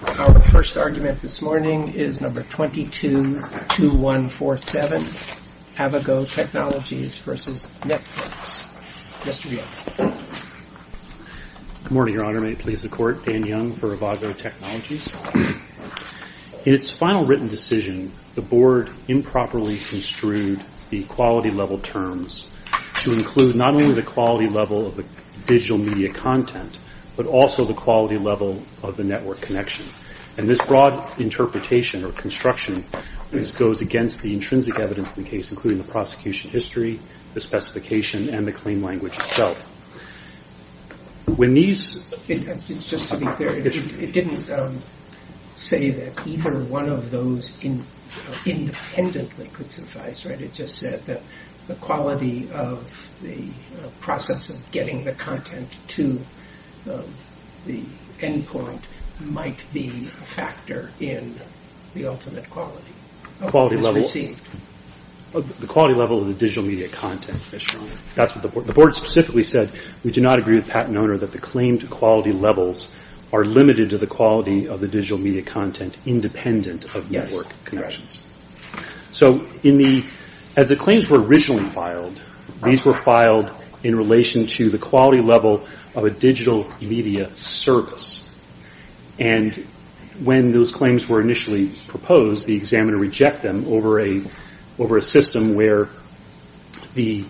222147, Avago Technologies v. Netflix Good morning, Your Honor. May it please the Court, Dan Young for Avago Technologies. In its final written decision, the Board improperly construed the quality level terms to include not only the quality level of the digital media content, but also the quality level of the network connection. And this broad interpretation or construction goes against the intrinsic evidence of the case, including the prosecution history, the specification, and the claim language itself. When these- It's just to be clear, it didn't say that either one of those independently could suffice, right? It just said that the quality of the process of getting the content to the endpoint might be a factor in the ultimate quality of what is received. The quality level of the digital media content, Your Honor. The Board specifically said, we do not agree with Pat and Oner that the claimed quality levels are limited to the quality of the digital media content independent of network connections. So as the claims were originally filed, these were filed in relation to the quality level of a digital media service. And when those claims were initially proposed, the examiner rejected them over a system where the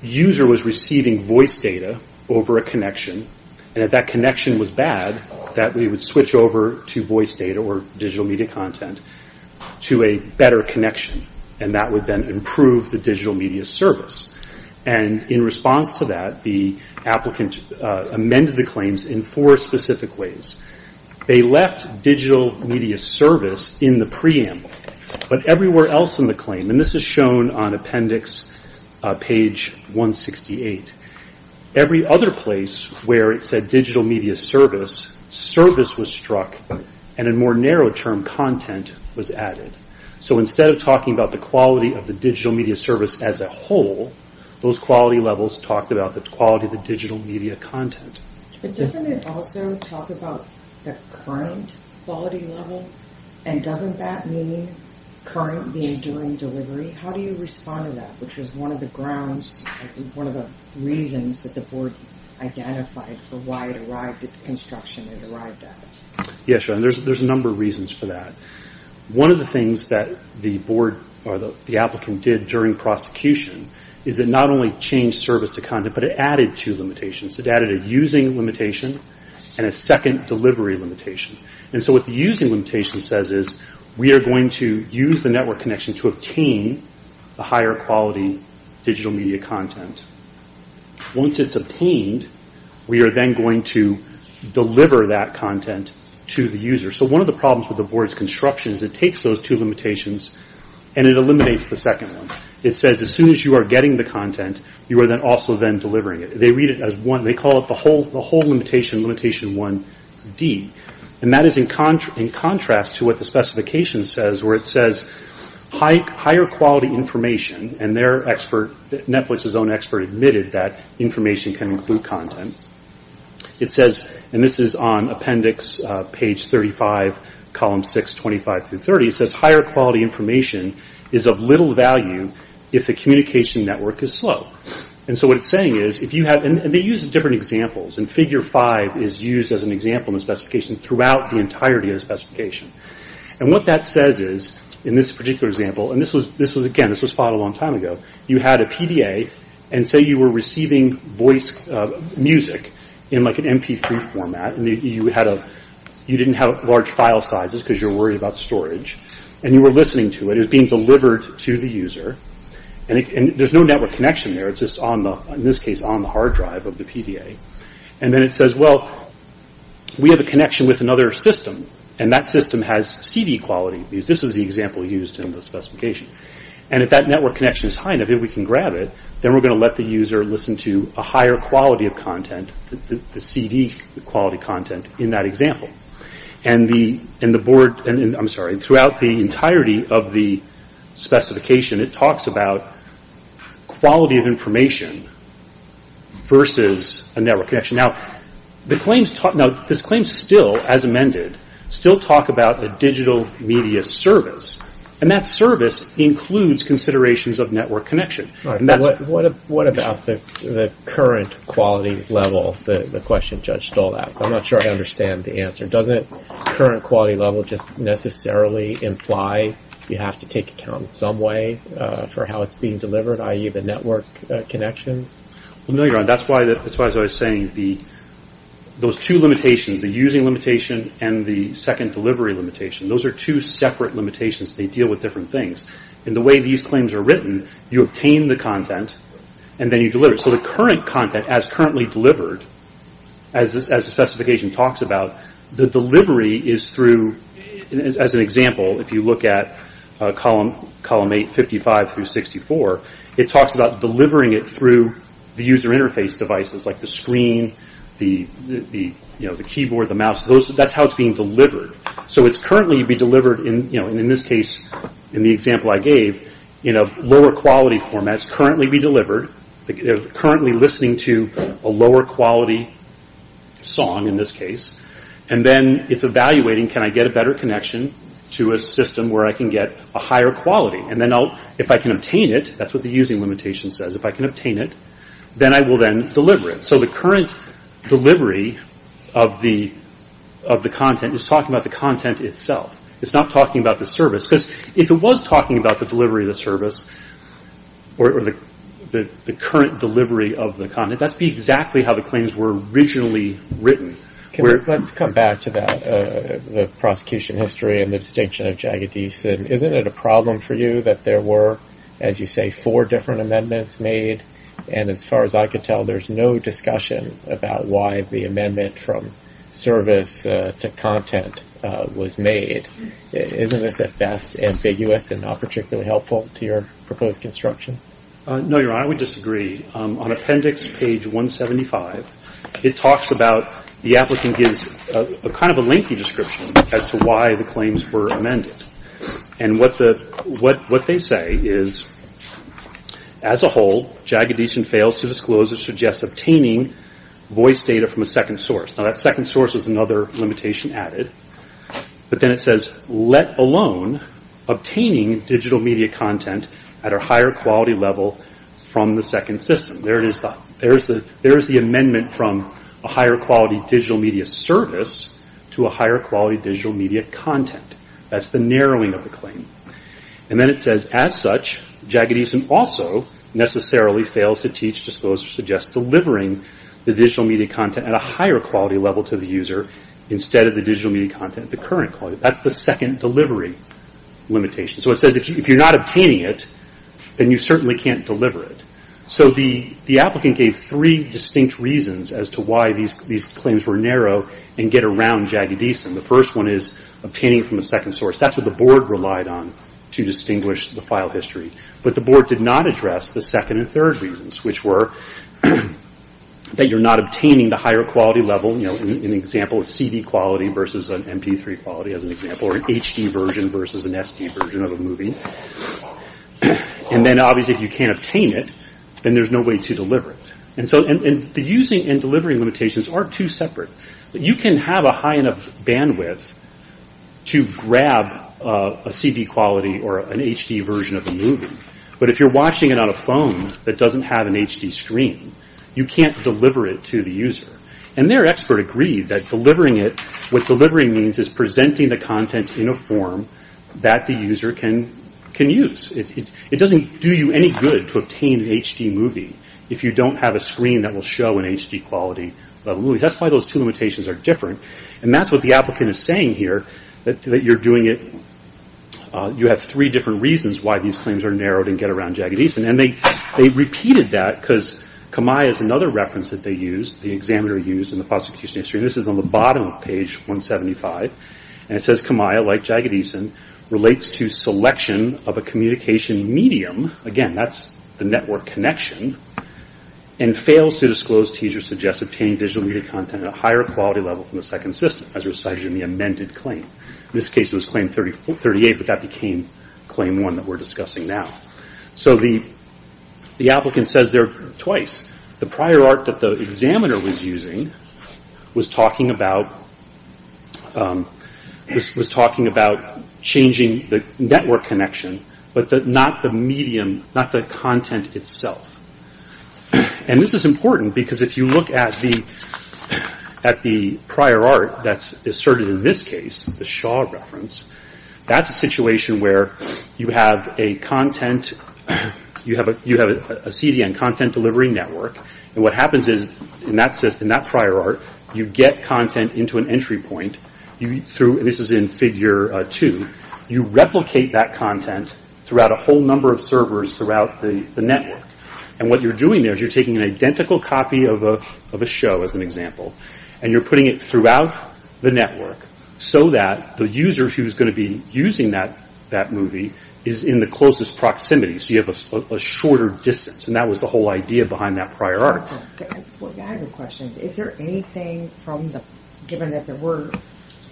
user was receiving voice data over a connection, and if that connection was bad, that we would switch over to voice data or digital media content to a better connection, and that would then improve the digital media service. And in response to that, the applicant amended the claims in four specific ways. They left digital media service in the preamble, but everywhere else in the claim, and this is shown on appendix page 168, every other place where it said digital media service, service was struck, and a more narrow term, content, was added. So instead of talking about the quality of the digital media service as a whole, those quality levels talked about the quality of the digital media content. But doesn't it also talk about the current quality level? And doesn't that mean current being during delivery? How do you respond to that? Which was one of the grounds, one of the reasons that the board identified for why it arrived at the construction it arrived at? Yeah, sure, and there's a number of reasons for that. One of the things that the applicant did during prosecution is that not only changed service to content, but it added two limitations. It added a using limitation and a second delivery limitation. And so what the using limitation says is, we are going to use the network connection to obtain the higher quality digital media content. Once it's obtained, we are then going to deliver that content to the user. So one of the problems with the board's construction is it takes those two limitations and it eliminates the second one. It says as soon as you are getting the content, you are then also then delivering it. They read it as one, they call it the whole limitation, limitation 1D. And that is in contrast to what the specification says, where it says higher quality information and their expert, Netflix's own expert admitted that information can include content. It says, and this is on appendix page 35, column 6, 25 through 30, it says higher quality information is of little value if the communication network is slow. And so what it's saying is, if you have, and they use different examples, and figure five is used as an example in the specification throughout the entirety of the specification. And what that says is, in this particular example, and again this was filed a long time ago, you had a PDA and say you were receiving voice music in like an MP3 format, and you didn't have large file sizes because you were worried about storage, and you were listening to it, it was being delivered to the user, and there's no network connection there, it's just on the, in this case, on the hard drive of the PDA. And then it says, well, we have a connection with another system, and that system has CD quality. This is the example used in the specification. And if that network connection is high enough, if we can grab it, then we're going to let the user listen to a higher quality of content, the CD quality content in that example. And the board, I'm sorry, throughout the entirety of the specification it talks about quality of information versus a network connection. Now, this claim still, as amended, still talk about a digital media service, and that service includes considerations of network connection. What about the current quality level, the question Judge Stoll asked? I'm not sure I understand the answer. Doesn't current quality level just necessarily imply you have to take account in some way for how it's being delivered, i.e. the network connections? Well, no, Your Honor, that's why I was saying those two limitations, the using limitation and the second delivery limitation, those are two separate limitations. They deal with different things. And the way these claims are written, you obtain the content, and then you deliver it. So the current content, as currently delivered, as the specification talks about, the delivery is through, as an example, if you look at column 855-64, it deals with the user interface devices, like the screen, the keyboard, the mouse, that's how it's being delivered. So it's currently to be delivered, in this case, in the example I gave, in a lower quality format, it's currently to be delivered, they're currently listening to a lower quality song, in this case, and then it's evaluating, can I get a better connection to a system where I can get a higher quality? And then if I can obtain it, that's what the using limitation says, if I can obtain it, then I will then deliver it. So the current delivery of the content is talking about the content itself. It's not talking about the service, because if it was talking about the delivery of the service, or the current delivery of the content, that would be exactly how the claims were originally written. Let's come back to that, the prosecution history and the distinction of Jagadeesh. Isn't it a problem for you that there were, as you say, four different amendments made, and as far as I can tell, there's no discussion about why the amendment from service to content was made. Isn't this at best ambiguous and not particularly helpful to your proposed construction? No, Your Honor, I would disagree. On appendix page 175, it talks about, the applicant gives kind of a lengthy description as to why the claims were amended. And what they say is, as a whole, Jagadeesh fails to disclose or suggest obtaining voice data from a second source. Now that second source is another limitation added. But then it says, let alone obtaining digital media content at a higher quality level from the second system. There is the amendment from a higher quality digital media service to a higher quality digital media content. That's the narrowing of the claim. And then it says, as such, Jagadeesh also necessarily fails to teach, disclose, or suggest delivering the digital media content at a higher quality level to the user, instead of the digital media content at the current quality. That's the second delivery limitation. So it says, if you're not obtaining it, then you certainly can't deliver it. So the applicant gave three distinct reasons as to why these claims were narrow and get around Jagadeesh. And the first one is obtaining from a second source. That's what the board relied on to distinguish the file history. But the board did not address the second and third reasons, which were that you're not obtaining the higher quality level, you know, an example of CD quality versus an MP3 quality, as an example, or an HD version versus an HD version of a movie. And then obviously if you can't obtain it, then there's no way to deliver it. And so the using and delivering limitations are two separate. You can have a high enough bandwidth to grab a CD quality or an HD version of a movie. But if you're watching it on a phone that doesn't have an HD screen, you can't deliver it to the user. And their expert agreed that delivering it, what delivering means is presenting the content in a form that the user can use. It doesn't do you any good to obtain an HD movie if you don't have a screen that will show an HD quality of a movie. That's why those two limitations are different. And that's what the applicant is saying here, that you're doing it, you have three different reasons why these claims are narrowed and get around Jagadeesh. And they repeated that because Kamiah is another reference that they used, the examiner used in the prosecution history. And this is on the bottom of page 175. And it says Kamiah like Jagadeesh relates to selection of a communication medium, again that's the network connection, and fails to disclose, tease or suggest obtaining digital media content at a higher quality level from the second system as recited in the amended claim. In this case it was claim 38, but that became claim 1 that we're discussing now. So the applicant says there twice, the prior art that the examiner was using was talking about changing the network connection, but not the medium, not the content itself. And this is important because if you look at the prior art that's asserted in this case, the Shaw reference, that's a situation where you have a content, you have a CDN, content delivery network, and what happens is in that prior art you get content into an entry point, this is in figure 2, you replicate that content throughout a whole number of servers throughout the network. And what you're doing there is you're taking an identical copy of a show as an example, and you're putting it throughout the network so that the user who's going to be using that movie is in the closest proximity, so you have a shorter distance. And that was the whole idea behind that prior art. I have a question. Is there anything from the, given that there were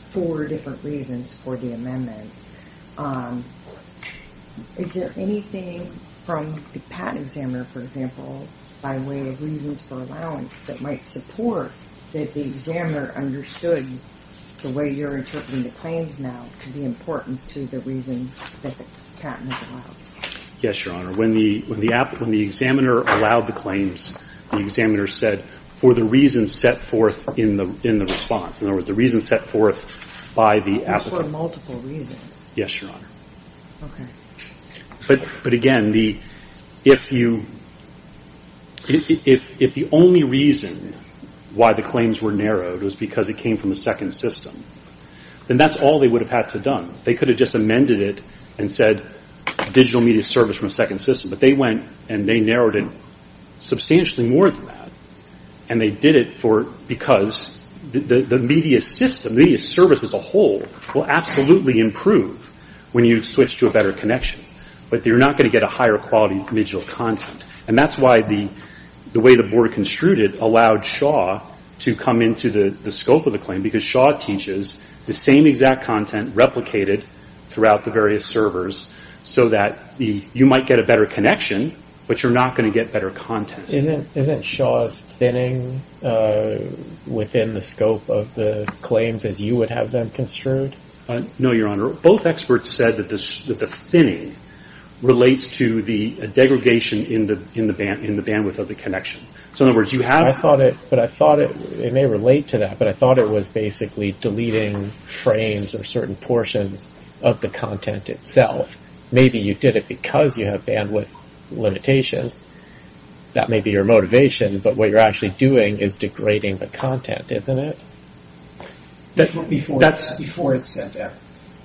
four different reasons for the amendments, is there anything from the patent examiner, for example, by way of reasons for allowance that might support that the examiner understood the way you're interpreting the claims now could be important to the reason that the patent was allowed? Yes, Your Honor. When the examiner allowed the claims, the examiner said, for the reason set forth in the response. In other words, the reason set forth by the applicant. For multiple reasons. Yes, Your Honor. But again, if you, if the only reason why the claims were narrowed was because it came from a second system, then that's all they would have had to have done. They could have just amended it and said, digital media service from a second system. But they went and they narrowed it substantially more than that. And they did it for, because the media system, the media service as a whole, will absolutely improve when you switch to a better connection. But you're not going to get a higher quality digital content. And that's why the way the board construed it allowed Shaw to come into the scope of the claim. Because Shaw teaches the same exact content replicated throughout the various servers so that you might get a better connection, but you're not going to get better content. Isn't Shaw's thinning within the scope of the claims as you would have them construed? No, Your Honor. Both experts said that the thinning relates to the degradation in the bandwidth of the connection. So in other words, you have... But I thought it may relate to that, but I thought it was basically deleting frames or certain portions of the content itself. Maybe you did it because you have bandwidth limitations. That may be your motivation, but what you're actually doing is degrading the content, isn't it? That's before it's sent out.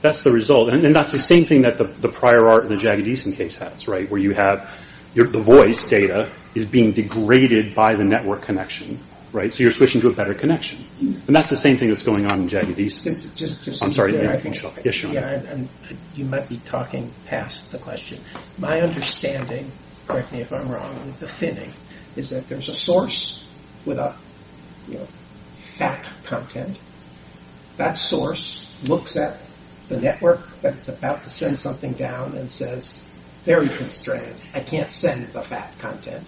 That's the result. And that's the same thing that the prior art in the Jagadeesan case has, where you have the voice data is being degraded by the network connection. So you're switching to a better connection. And that's the same thing that's going on in Jagadeesan. I'm sorry. Yes, Your Honor. You might be talking past the question. My understanding, correct me if I'm wrong, of the thinning is that there's a source with a fat content. That source looks at the network that's about to send something down and says, very constrained. I can't send the fat content.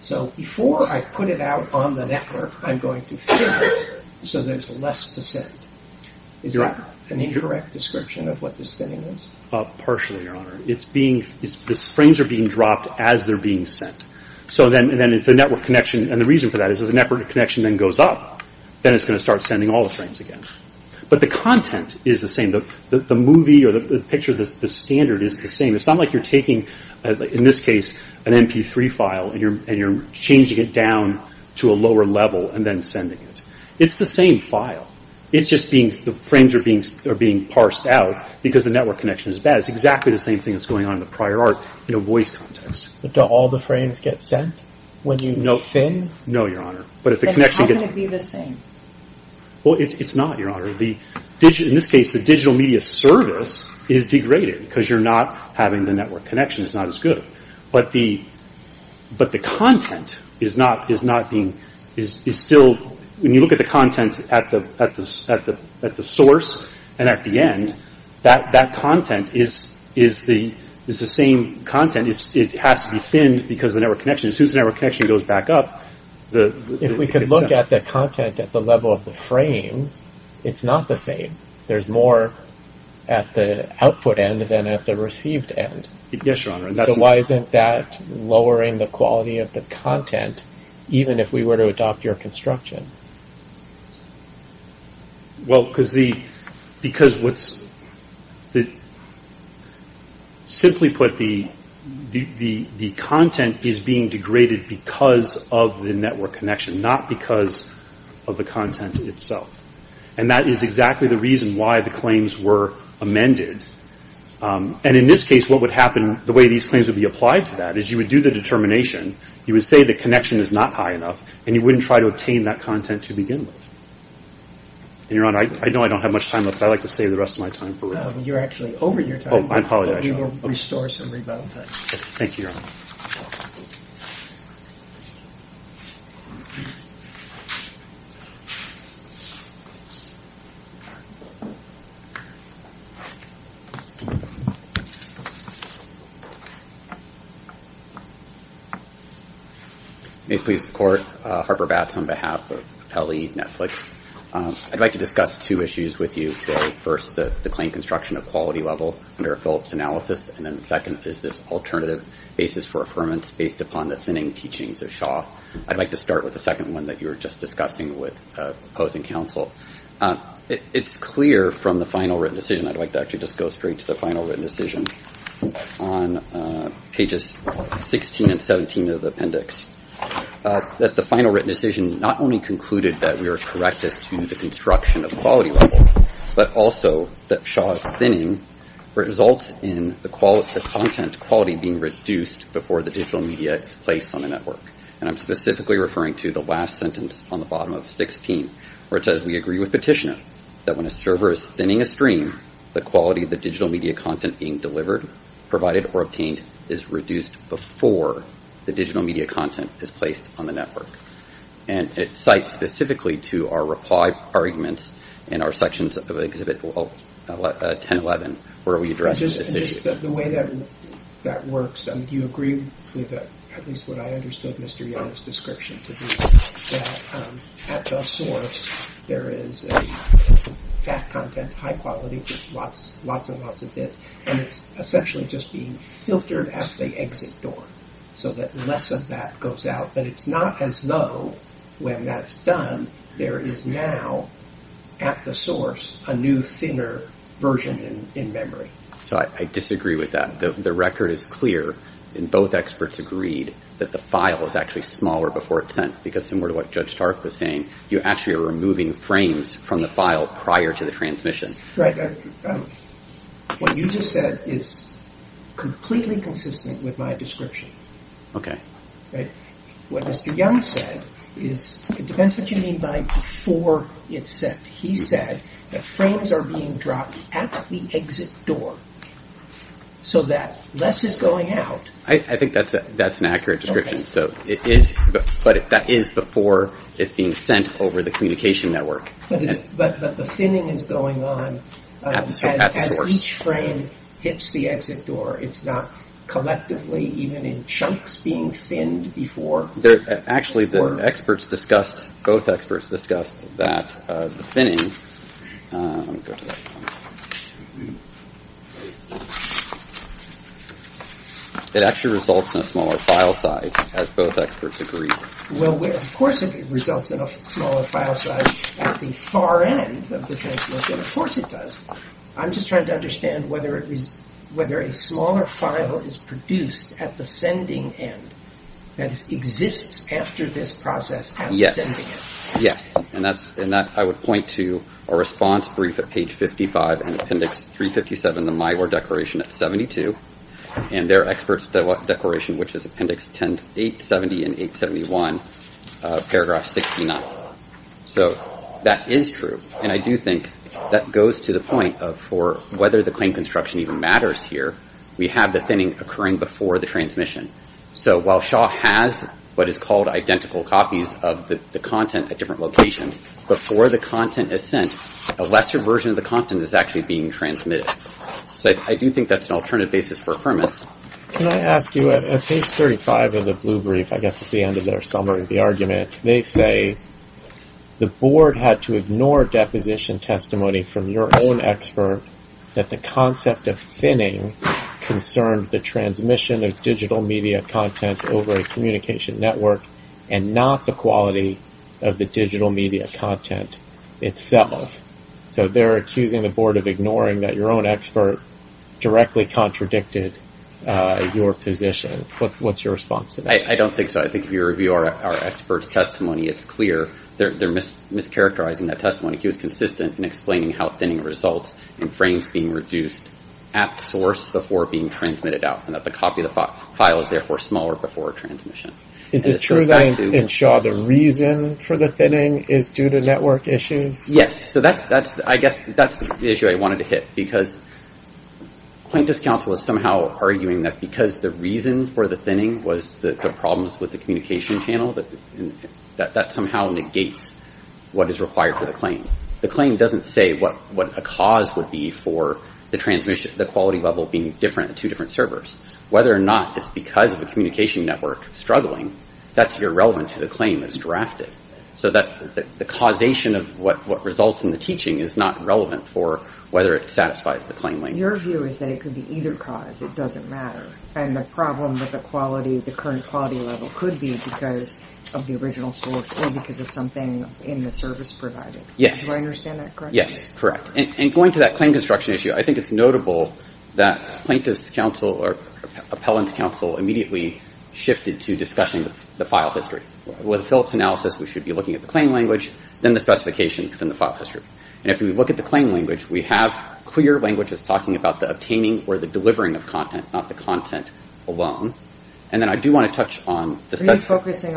So before I put it out on the network, I'm going to thin it so there's less to send. Is that an incorrect description of what this thinning is? Partially, Your Honor. The frames are being dropped as they're being sent. So then the network connection, and the reason for that is if the network connection then goes up, then it's going to start sending all the frames again. But the content is the same. The movie or the picture, the standard is the same. It's not like you're taking, in this case, an MP3 file and you're changing it down to a lower level and then sending it. It's the same file. It's just being, the frames are being parsed out because the network connection is bad. It's exactly the same thing that's going on in the prior art in a voice context. But do all the frames get sent when you thin? No, Your Honor. Then how can it be the same? Well, it's not, Your Honor. In this case, the digital media service is degraded because you're not having the network connection. It's not as good. But the content is not being, is still, when you look at the content at the source and at the end, that content is the same content. It has to be thinned because of the network connection. As soon as the If we could look at the content at the level of the frames, it's not the same. There's more at the output end than at the received end. Yes, Your Honor. So why isn't that lowering the quality of the content even if we were to adopt your construction? Well, because the, because what's, simply put, the content is being degraded because of the network connection, not because of the content itself. And that is exactly the reason why the claims were amended. And in this case, what would happen, the way these claims would be applied to that, is you would do the determination. You would say the connection is not high enough, and you wouldn't try to obtain that content to begin with. And, Your Honor, I know I don't have much time left, but I'd like to save the rest of my time for rebuttal. Well, you're actually over your time, but we will restore some rebuttal time. Thank you, Your Honor. May this please the Court. Harper Batts on behalf of Pele Netflix. I'd like to discuss two issues with you today. First, the claim construction of quality level under a Phillips analysis, and then the second is this alternative basis for affirmance based upon the thinning teachings of Shaw. I'd like to start with the second one that you were just discussing with opposing counsel. It's clear from the final written decision, I'd like to actually just go straight to the final written decision, on pages 16 and 17 of the appendix, that the final written decision not only concluded that we are correct as to the construction of quality level, but also that Shaw's thinning results in the content quality being reduced before the digital media is placed on the network. And I'm specifically referring to the last sentence on the bottom of 16, where it says we agree with Petitioner that when a server is thinning a stream, the quality of the digital media content being delivered, provided, or obtained is reduced before the digital media content is placed on the network. And it cites specifically to our reply arguments in our sections of Exhibit 1011, where we address this issue. The way that works, do you agree with at least what I understood Mr. Young's description to be? That at the source, there is a fat content, high quality, just lots and lots of bits, and it's essentially just being filtered at the exit door, so that that goes out, but it's not as though when that's done, there is now at the source, a new thinner version in memory. So I disagree with that. The record is clear, and both experts agreed that the file was actually smaller before it's sent, because similar to what Judge Stark was saying, you actually are removing frames from the file prior to the transmission. Right. What you just said is completely consistent with my description. Okay. What Mr. Young said is, it depends what you mean by before it's sent. He said that frames are being dropped at the exit door, so that less is going out. I think that's an accurate description. So it is, but that is before it's being sent over the communication network. But the thinning is going on as each frame hits the exit door. It's not collectively, even in chunks, being thinned before. Actually, the experts discussed, both experts discussed that the thinning, it actually results in a smaller file size, as both experts agree. Well, of course it results in a smaller file size at the far end of the transmission. Of course it does. I'm just trying to understand whether a smaller file is produced at the sending end, that it exists after this process of sending it. Yes. And I would point to a response brief at page 55, and appendix 357, or declaration at 72, and their experts declaration, which is appendix 870 and 871, paragraph 69. So that is true. And I do think that goes to the point of, for whether the claim construction even matters here, we have the thinning occurring before the transmission. So while Shaw has what is called identical copies of the content at different locations, before the content is sent, a lesser version of the content is actually being transmitted. So I do think that's an alternative basis for affirmance. Can I ask you, at page 35 of the blue brief, I guess it's the end of their summary of the argument, they say the board had to ignore deposition testimony from your own expert that the concept of thinning concerned the transmission of digital media content over a communication network, and not the quality of the digital media content itself. So they're accusing the board of ignoring that your own expert directly contradicted your position. What's your response to that? I don't think so. I think if you review our expert's testimony, it's clear they're mischaracterizing that testimony. He was consistent in explaining how thinning results in frames being reduced at source before being transmitted out, and that the copy of the file is therefore smaller before transmission. Is it true that in Shaw the reason for the thinning is due to network issues? Yes. So I guess that's the issue I wanted to hit. Because plaintiff's counsel is somehow arguing that because the reason for the thinning was the problems with the communication channel, that somehow negates what is required for the claim. The claim doesn't say what a cause would be for the quality level being two different servers. Whether or not it's because of a communication network struggling, that's irrelevant to the claim that's drafted. So the causation of what results in the teaching is not relevant for whether it satisfies the claim. Your view is that it could be either cause. It doesn't matter. And the problem with the quality, the current quality level, could be because of the original source or because of something in the service provided. Yes. Do I understand that correctly? Yes, correct. And going to that claim construction issue, I think it's notable that plaintiff's counsel or appellant's counsel immediately shifted to discussing the file history. With Phillips analysis, we should be looking at the claim language, then the specification, then the file history. And if we look at the claim language, we have clear language that's talking about the obtaining or the delivering of content, not the content alone. And then I do want to touch on the specification. Are you focusing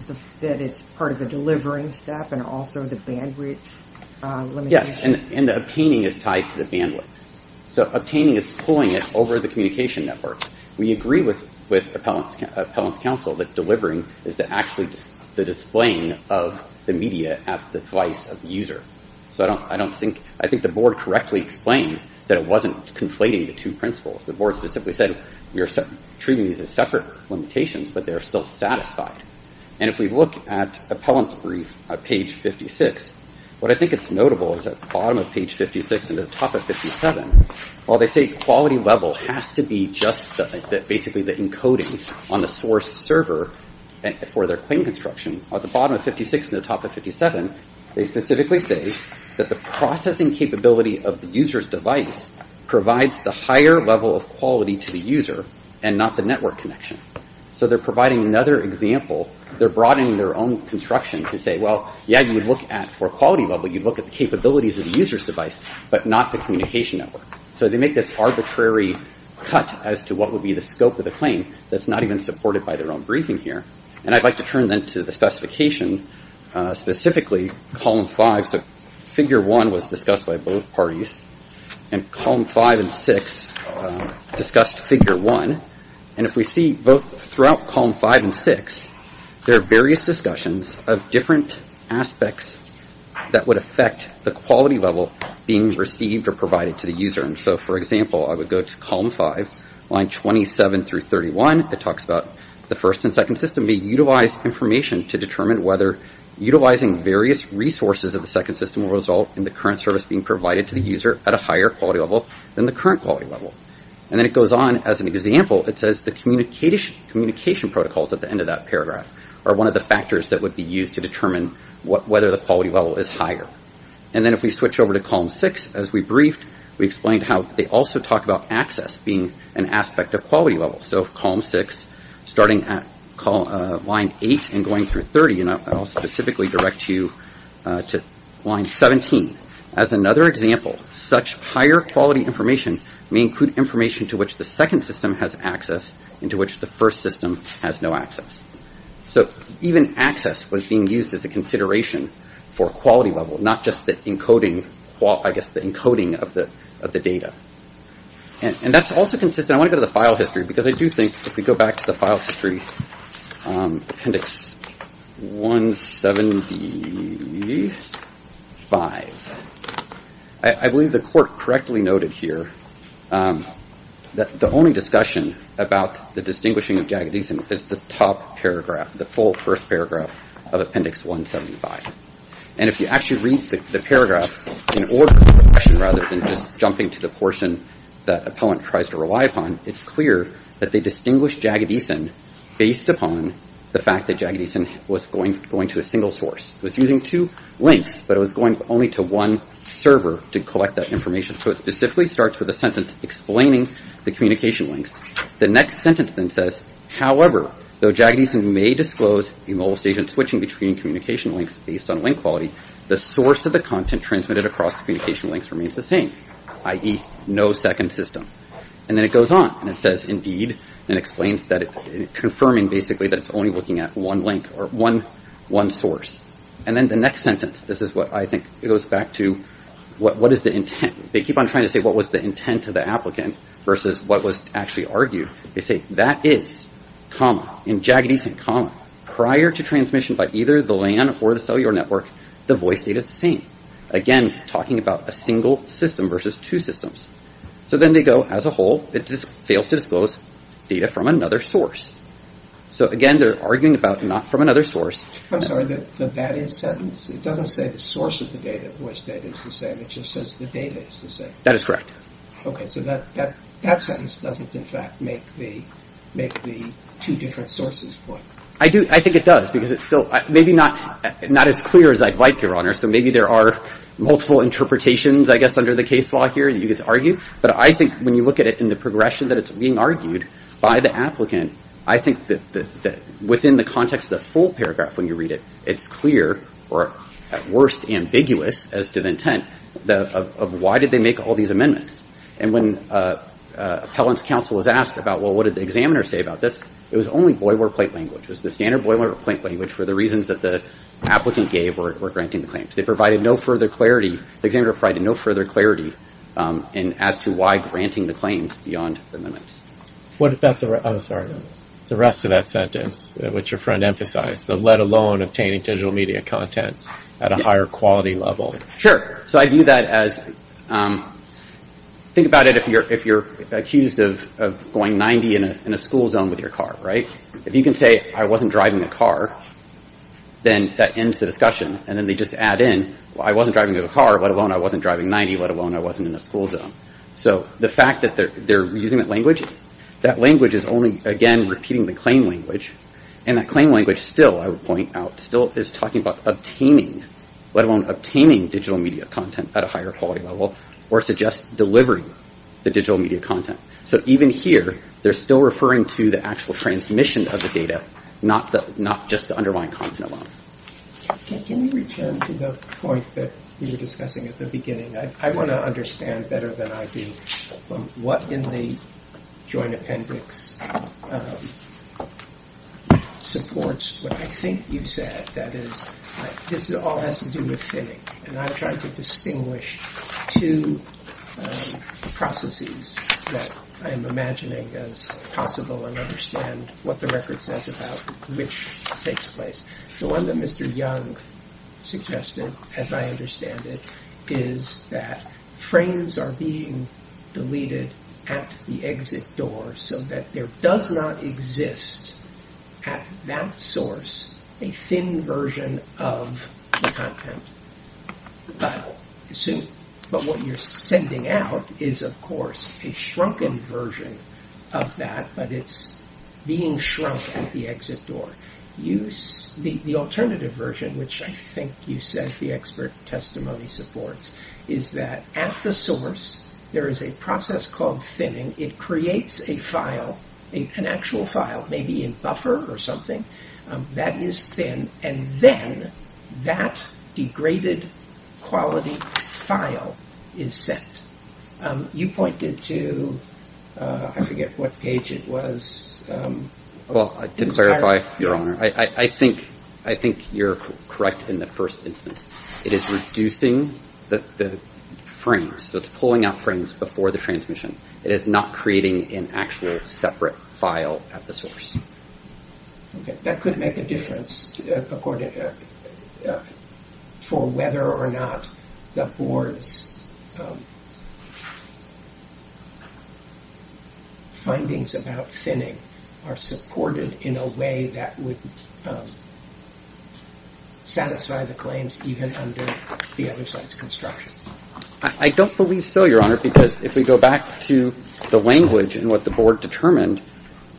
on that it's part of the delivering step and also the bandwidth limitation? Yes. And the obtaining is tied to the bandwidth. So obtaining is pulling it over the communication network. We agree with appellant's counsel that delivering is actually the displaying of the media at the device of the user. So I don't think, I think the board correctly explained that it wasn't conflating the two principles. The board specifically said we are treating these as separate limitations, but they are still satisfied. And if we look at appellant's brief at page 56, what I think it's notable is at the bottom of page 56 and the top of 57, while they say quality level has to be just basically the encoding on the source server for their claim construction, at the bottom of 56 and the top of 57, they specifically say that the processing capability of the user's device provides the higher level of quality to the user and not the network connection. So they're providing another example. They're broadening their own construction to say, yeah, you would look at for quality level, you'd look at the capabilities of the user's device, but not the communication network. So they make this arbitrary cut as to what would be the scope of the claim that's not even supported by their own briefing here. And I'd like to turn then to the specification, specifically column five. So figure one was discussed by both parties. And column five and six discussed figure one. And if we see throughout column five and six, there are various discussions of different aspects that would affect the quality level being received or provided to the user. And so, for example, I would go to column five, line 27 through 31. It talks about the first and second system may utilize information to determine whether utilizing various resources of the second system will result in the current service being provided to the user at a higher quality level than the communication protocols at the end of that paragraph are one of the factors that would be used to determine whether the quality level is higher. And then if we switch over to column six, as we briefed, we explained how they also talk about access being an aspect of quality level. So column six, starting at line eight and going through 30, and I'll specifically direct you to line 17. As another example, such higher quality information may include information to the second system has access into which the first system has no access. So even access was being used as a consideration for quality level, not just the encoding of the data. And that's also consistent. I want to go to the file history because I do think if we go back to the file here, the only discussion about the distinguishing of Jagadeesan is the top paragraph, the full first paragraph of appendix 175. And if you actually read the paragraph in order, rather than just jumping to the portion that a poet tries to rely upon, it's clear that they distinguish Jagadeesan based upon the fact that Jagadeesan was going to a single source. It was using two links, but it was going only to one server to collect that information. So it specifically starts with a sentence explaining the communication links. The next sentence then says, however, though Jagadeesan may disclose a mobile station switching between communication links based on link quality, the source of the content transmitted across the communication links remains the same, i.e. no second system. And then it goes on and it says, indeed, and explains that confirming basically that it's only looking at one link or one source. And then the next sentence, this is what I think it goes back to, what is the intent? They keep on trying to say what was the intent of the applicant versus what was actually argued. They say that is, comma, in Jagadeesan, comma, prior to transmission by either the LAN or the cellular network, the voice data is the same. Again, talking about a single system versus two systems. So then they go, as a whole, it just fails to disclose data from another source. So again, they're arguing about not from another source. I'm sorry, but that is sentence? It doesn't say the source of the data, voice data is the same. It just says the data is the same. That is correct. Okay. So that sentence doesn't, in fact, make the two different sources point. I think it does because it's still maybe not as clear as I'd like, Your Honor. So maybe there are multiple interpretations, I guess, under the case law here that you could argue. But I think when you look at it in the progression that it's being argued by the applicant, I think that within the context of the full paragraph when you read it, it's clear, or at worst, ambiguous as to the intent of why did they make all these amendments. And when appellant's counsel was asked about, well, what did the examiner say about this? It was only boilerplate language. It was the standard boilerplate language for the reasons that the applicant gave were granting the claims. They provided no further clarity. The examiner provided no further clarity as to why granting the claims beyond the amendments. What about the rest of that sentence which your friend emphasized, the let alone obtaining digital media content at a higher quality level? Sure. So I view that as, think about it if you're accused of going 90 in a school zone with your car, right? If you can say I wasn't driving a car, then that ends the discussion. And then they just add in, well, I wasn't driving a car, let alone I wasn't driving 90, let alone I wasn't in a school zone. So the fact that they're using that language, that language is only, again, repeating the claim language. And that claim language still, I would point out, still is talking about obtaining, let alone obtaining digital media content at a higher quality level, or suggests delivering the digital media content. So even here, they're still referring to the actual transmission of the data, not just the underlying content alone. Can you return to the point that we were discussing at the beginning? I want to understand better than I do what in the Joint Appendix supports what I think you said, that is, this all has to do with thinning. And I'm trying to distinguish two processes that I'm imagining as possible and understand what the record says about which takes place. The one that Mr. Young suggested, as I understand it, is that frames are being deleted at the exit door so that there does not exist at that source a thin version of the content. But what you're sending out is, of course, a shrunken version of that, but it's being shrunk at the exit door. The alternative version, which I think you said the expert testimony supports, is that at the source, there is a process called thinning. It creates a file, an actual file, maybe in buffer or something, that is thin, and then that degraded quality file is sent. You pointed to, I forget what page it was. Well, to clarify, Your Honor, I think you're correct in the first instance. It is reducing the frames, so it's pulling out frames before the transmission. It is not creating an actual separate file at the source. Okay. That could make a difference for whether or not the board's findings about thinning are supported in a way that would satisfy the claims even under the other side's construction. I don't believe so, Your Honor, because if we go back to the language and what the board determined,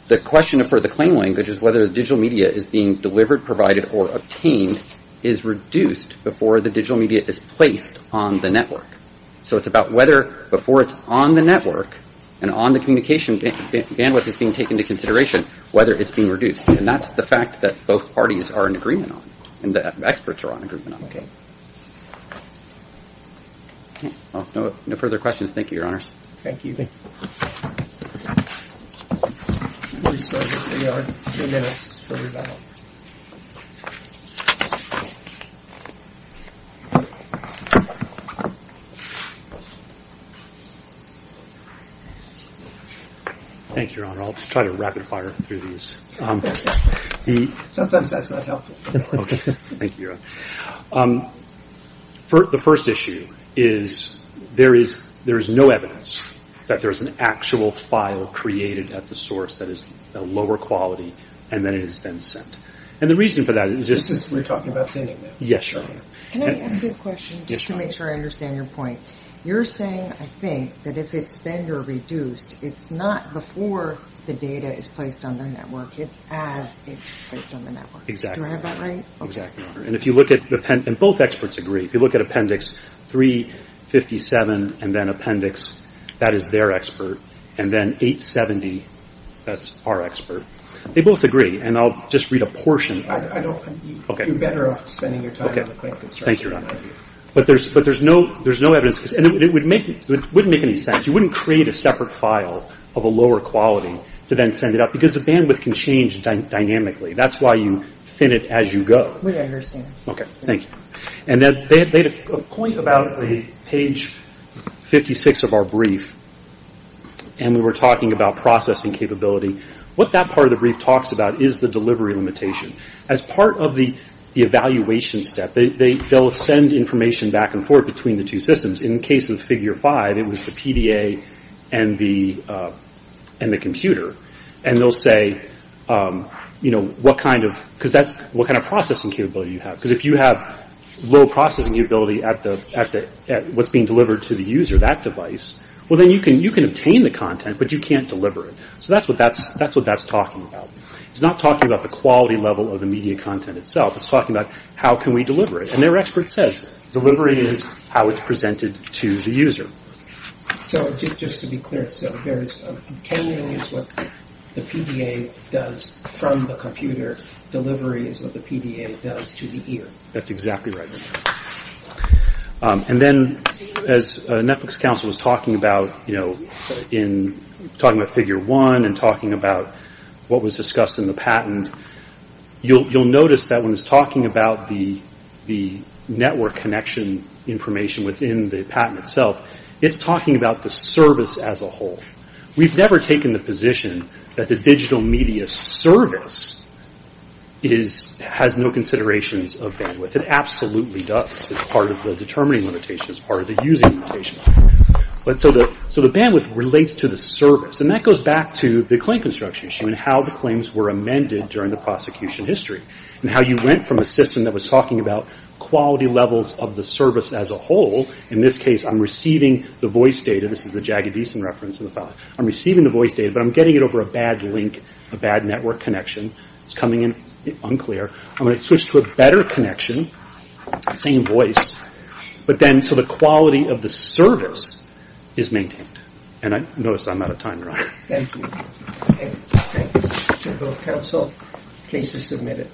the question for the claim language is whether the digital media is being delivered, provided, or obtained is reduced before the digital media is placed on the network. So it's about whether before it's on the network and on the communication bandwidth is being taken into consideration, whether it's being reduced. And that's the fact that both parties are in agreement. No further questions. Thank you, Your Honors. Thank you. Thank you, Your Honor. I'll try to rapid fire through these. Sometimes that's not helpful. Okay. Thank you, Your Honor. The first issue is there is no evidence that there is an actual file created at the source that is a lower quality, and then it is then sent. And the reason for that is just... We're talking about thinning. Yes, Your Honor. Can I ask a question just to make sure I understand your point? You're saying, I think, that if it's thinned or reduced, it's not before the data is placed on the network. It's as it's placed on the network. Exactly. Do I have that right? Exactly. And if you look at... And both experts agree. If you look at Appendix 357 and then Appendix... That is their expert. And then 870, that's our expert. They both agree. And I'll just read a portion. I don't... You're better off spending your time... Okay. Thank you, Your Honor. But there's no evidence... And it wouldn't make any sense. You wouldn't create a separate file of a lower quality to then send it up because the bandwidth can change dynamically. That's why you thin it as you go. We understand. Okay. Thank you. And they had a point about page 56 of our brief. And we were talking about processing capability. What that part of the brief talks about is the delivery limitation. As part of the evaluation step, they'll send information back and forth between the two you know, what kind of... Because that's... What kind of processing capability you have. Because if you have low processing capability at what's being delivered to the user, that device, well then you can obtain the content, but you can't deliver it. So that's what that's talking about. It's not talking about the quality level of the media content itself. It's talking about how can we deliver it. And their expert says delivery is how it's presented to the user. So just to be clear, so there's obtaining is what the PDA does from the computer. Delivery is what the PDA does to the ear. That's exactly right. And then as Netflix Council was talking about, you know, in talking about figure one and talking about what was discussed in the patent, you'll notice that when it's talking about the network connection information within the patent itself, it's talking about the service as a whole. We've never taken the position that the digital media service has no considerations of bandwidth. It absolutely does. It's part of the determining limitation. It's part of the using limitation. So the bandwidth relates to the service. And that goes back to the claim construction issue and how the claims were amended during the prosecution history and how you went from a system that was talking about quality levels of the service as a whole. In this case, I'm receiving the voice data. This is the Jagged Decent reference. I'm receiving the voice data, but I'm getting it over a bad link, a bad network connection. It's coming in unclear. I'm going to switch to a better connection, same voice, but then so the quality of the service is maintained. And notice I'm out of time, Ron. Thank you. Thank you to both counsel. Case is submitted.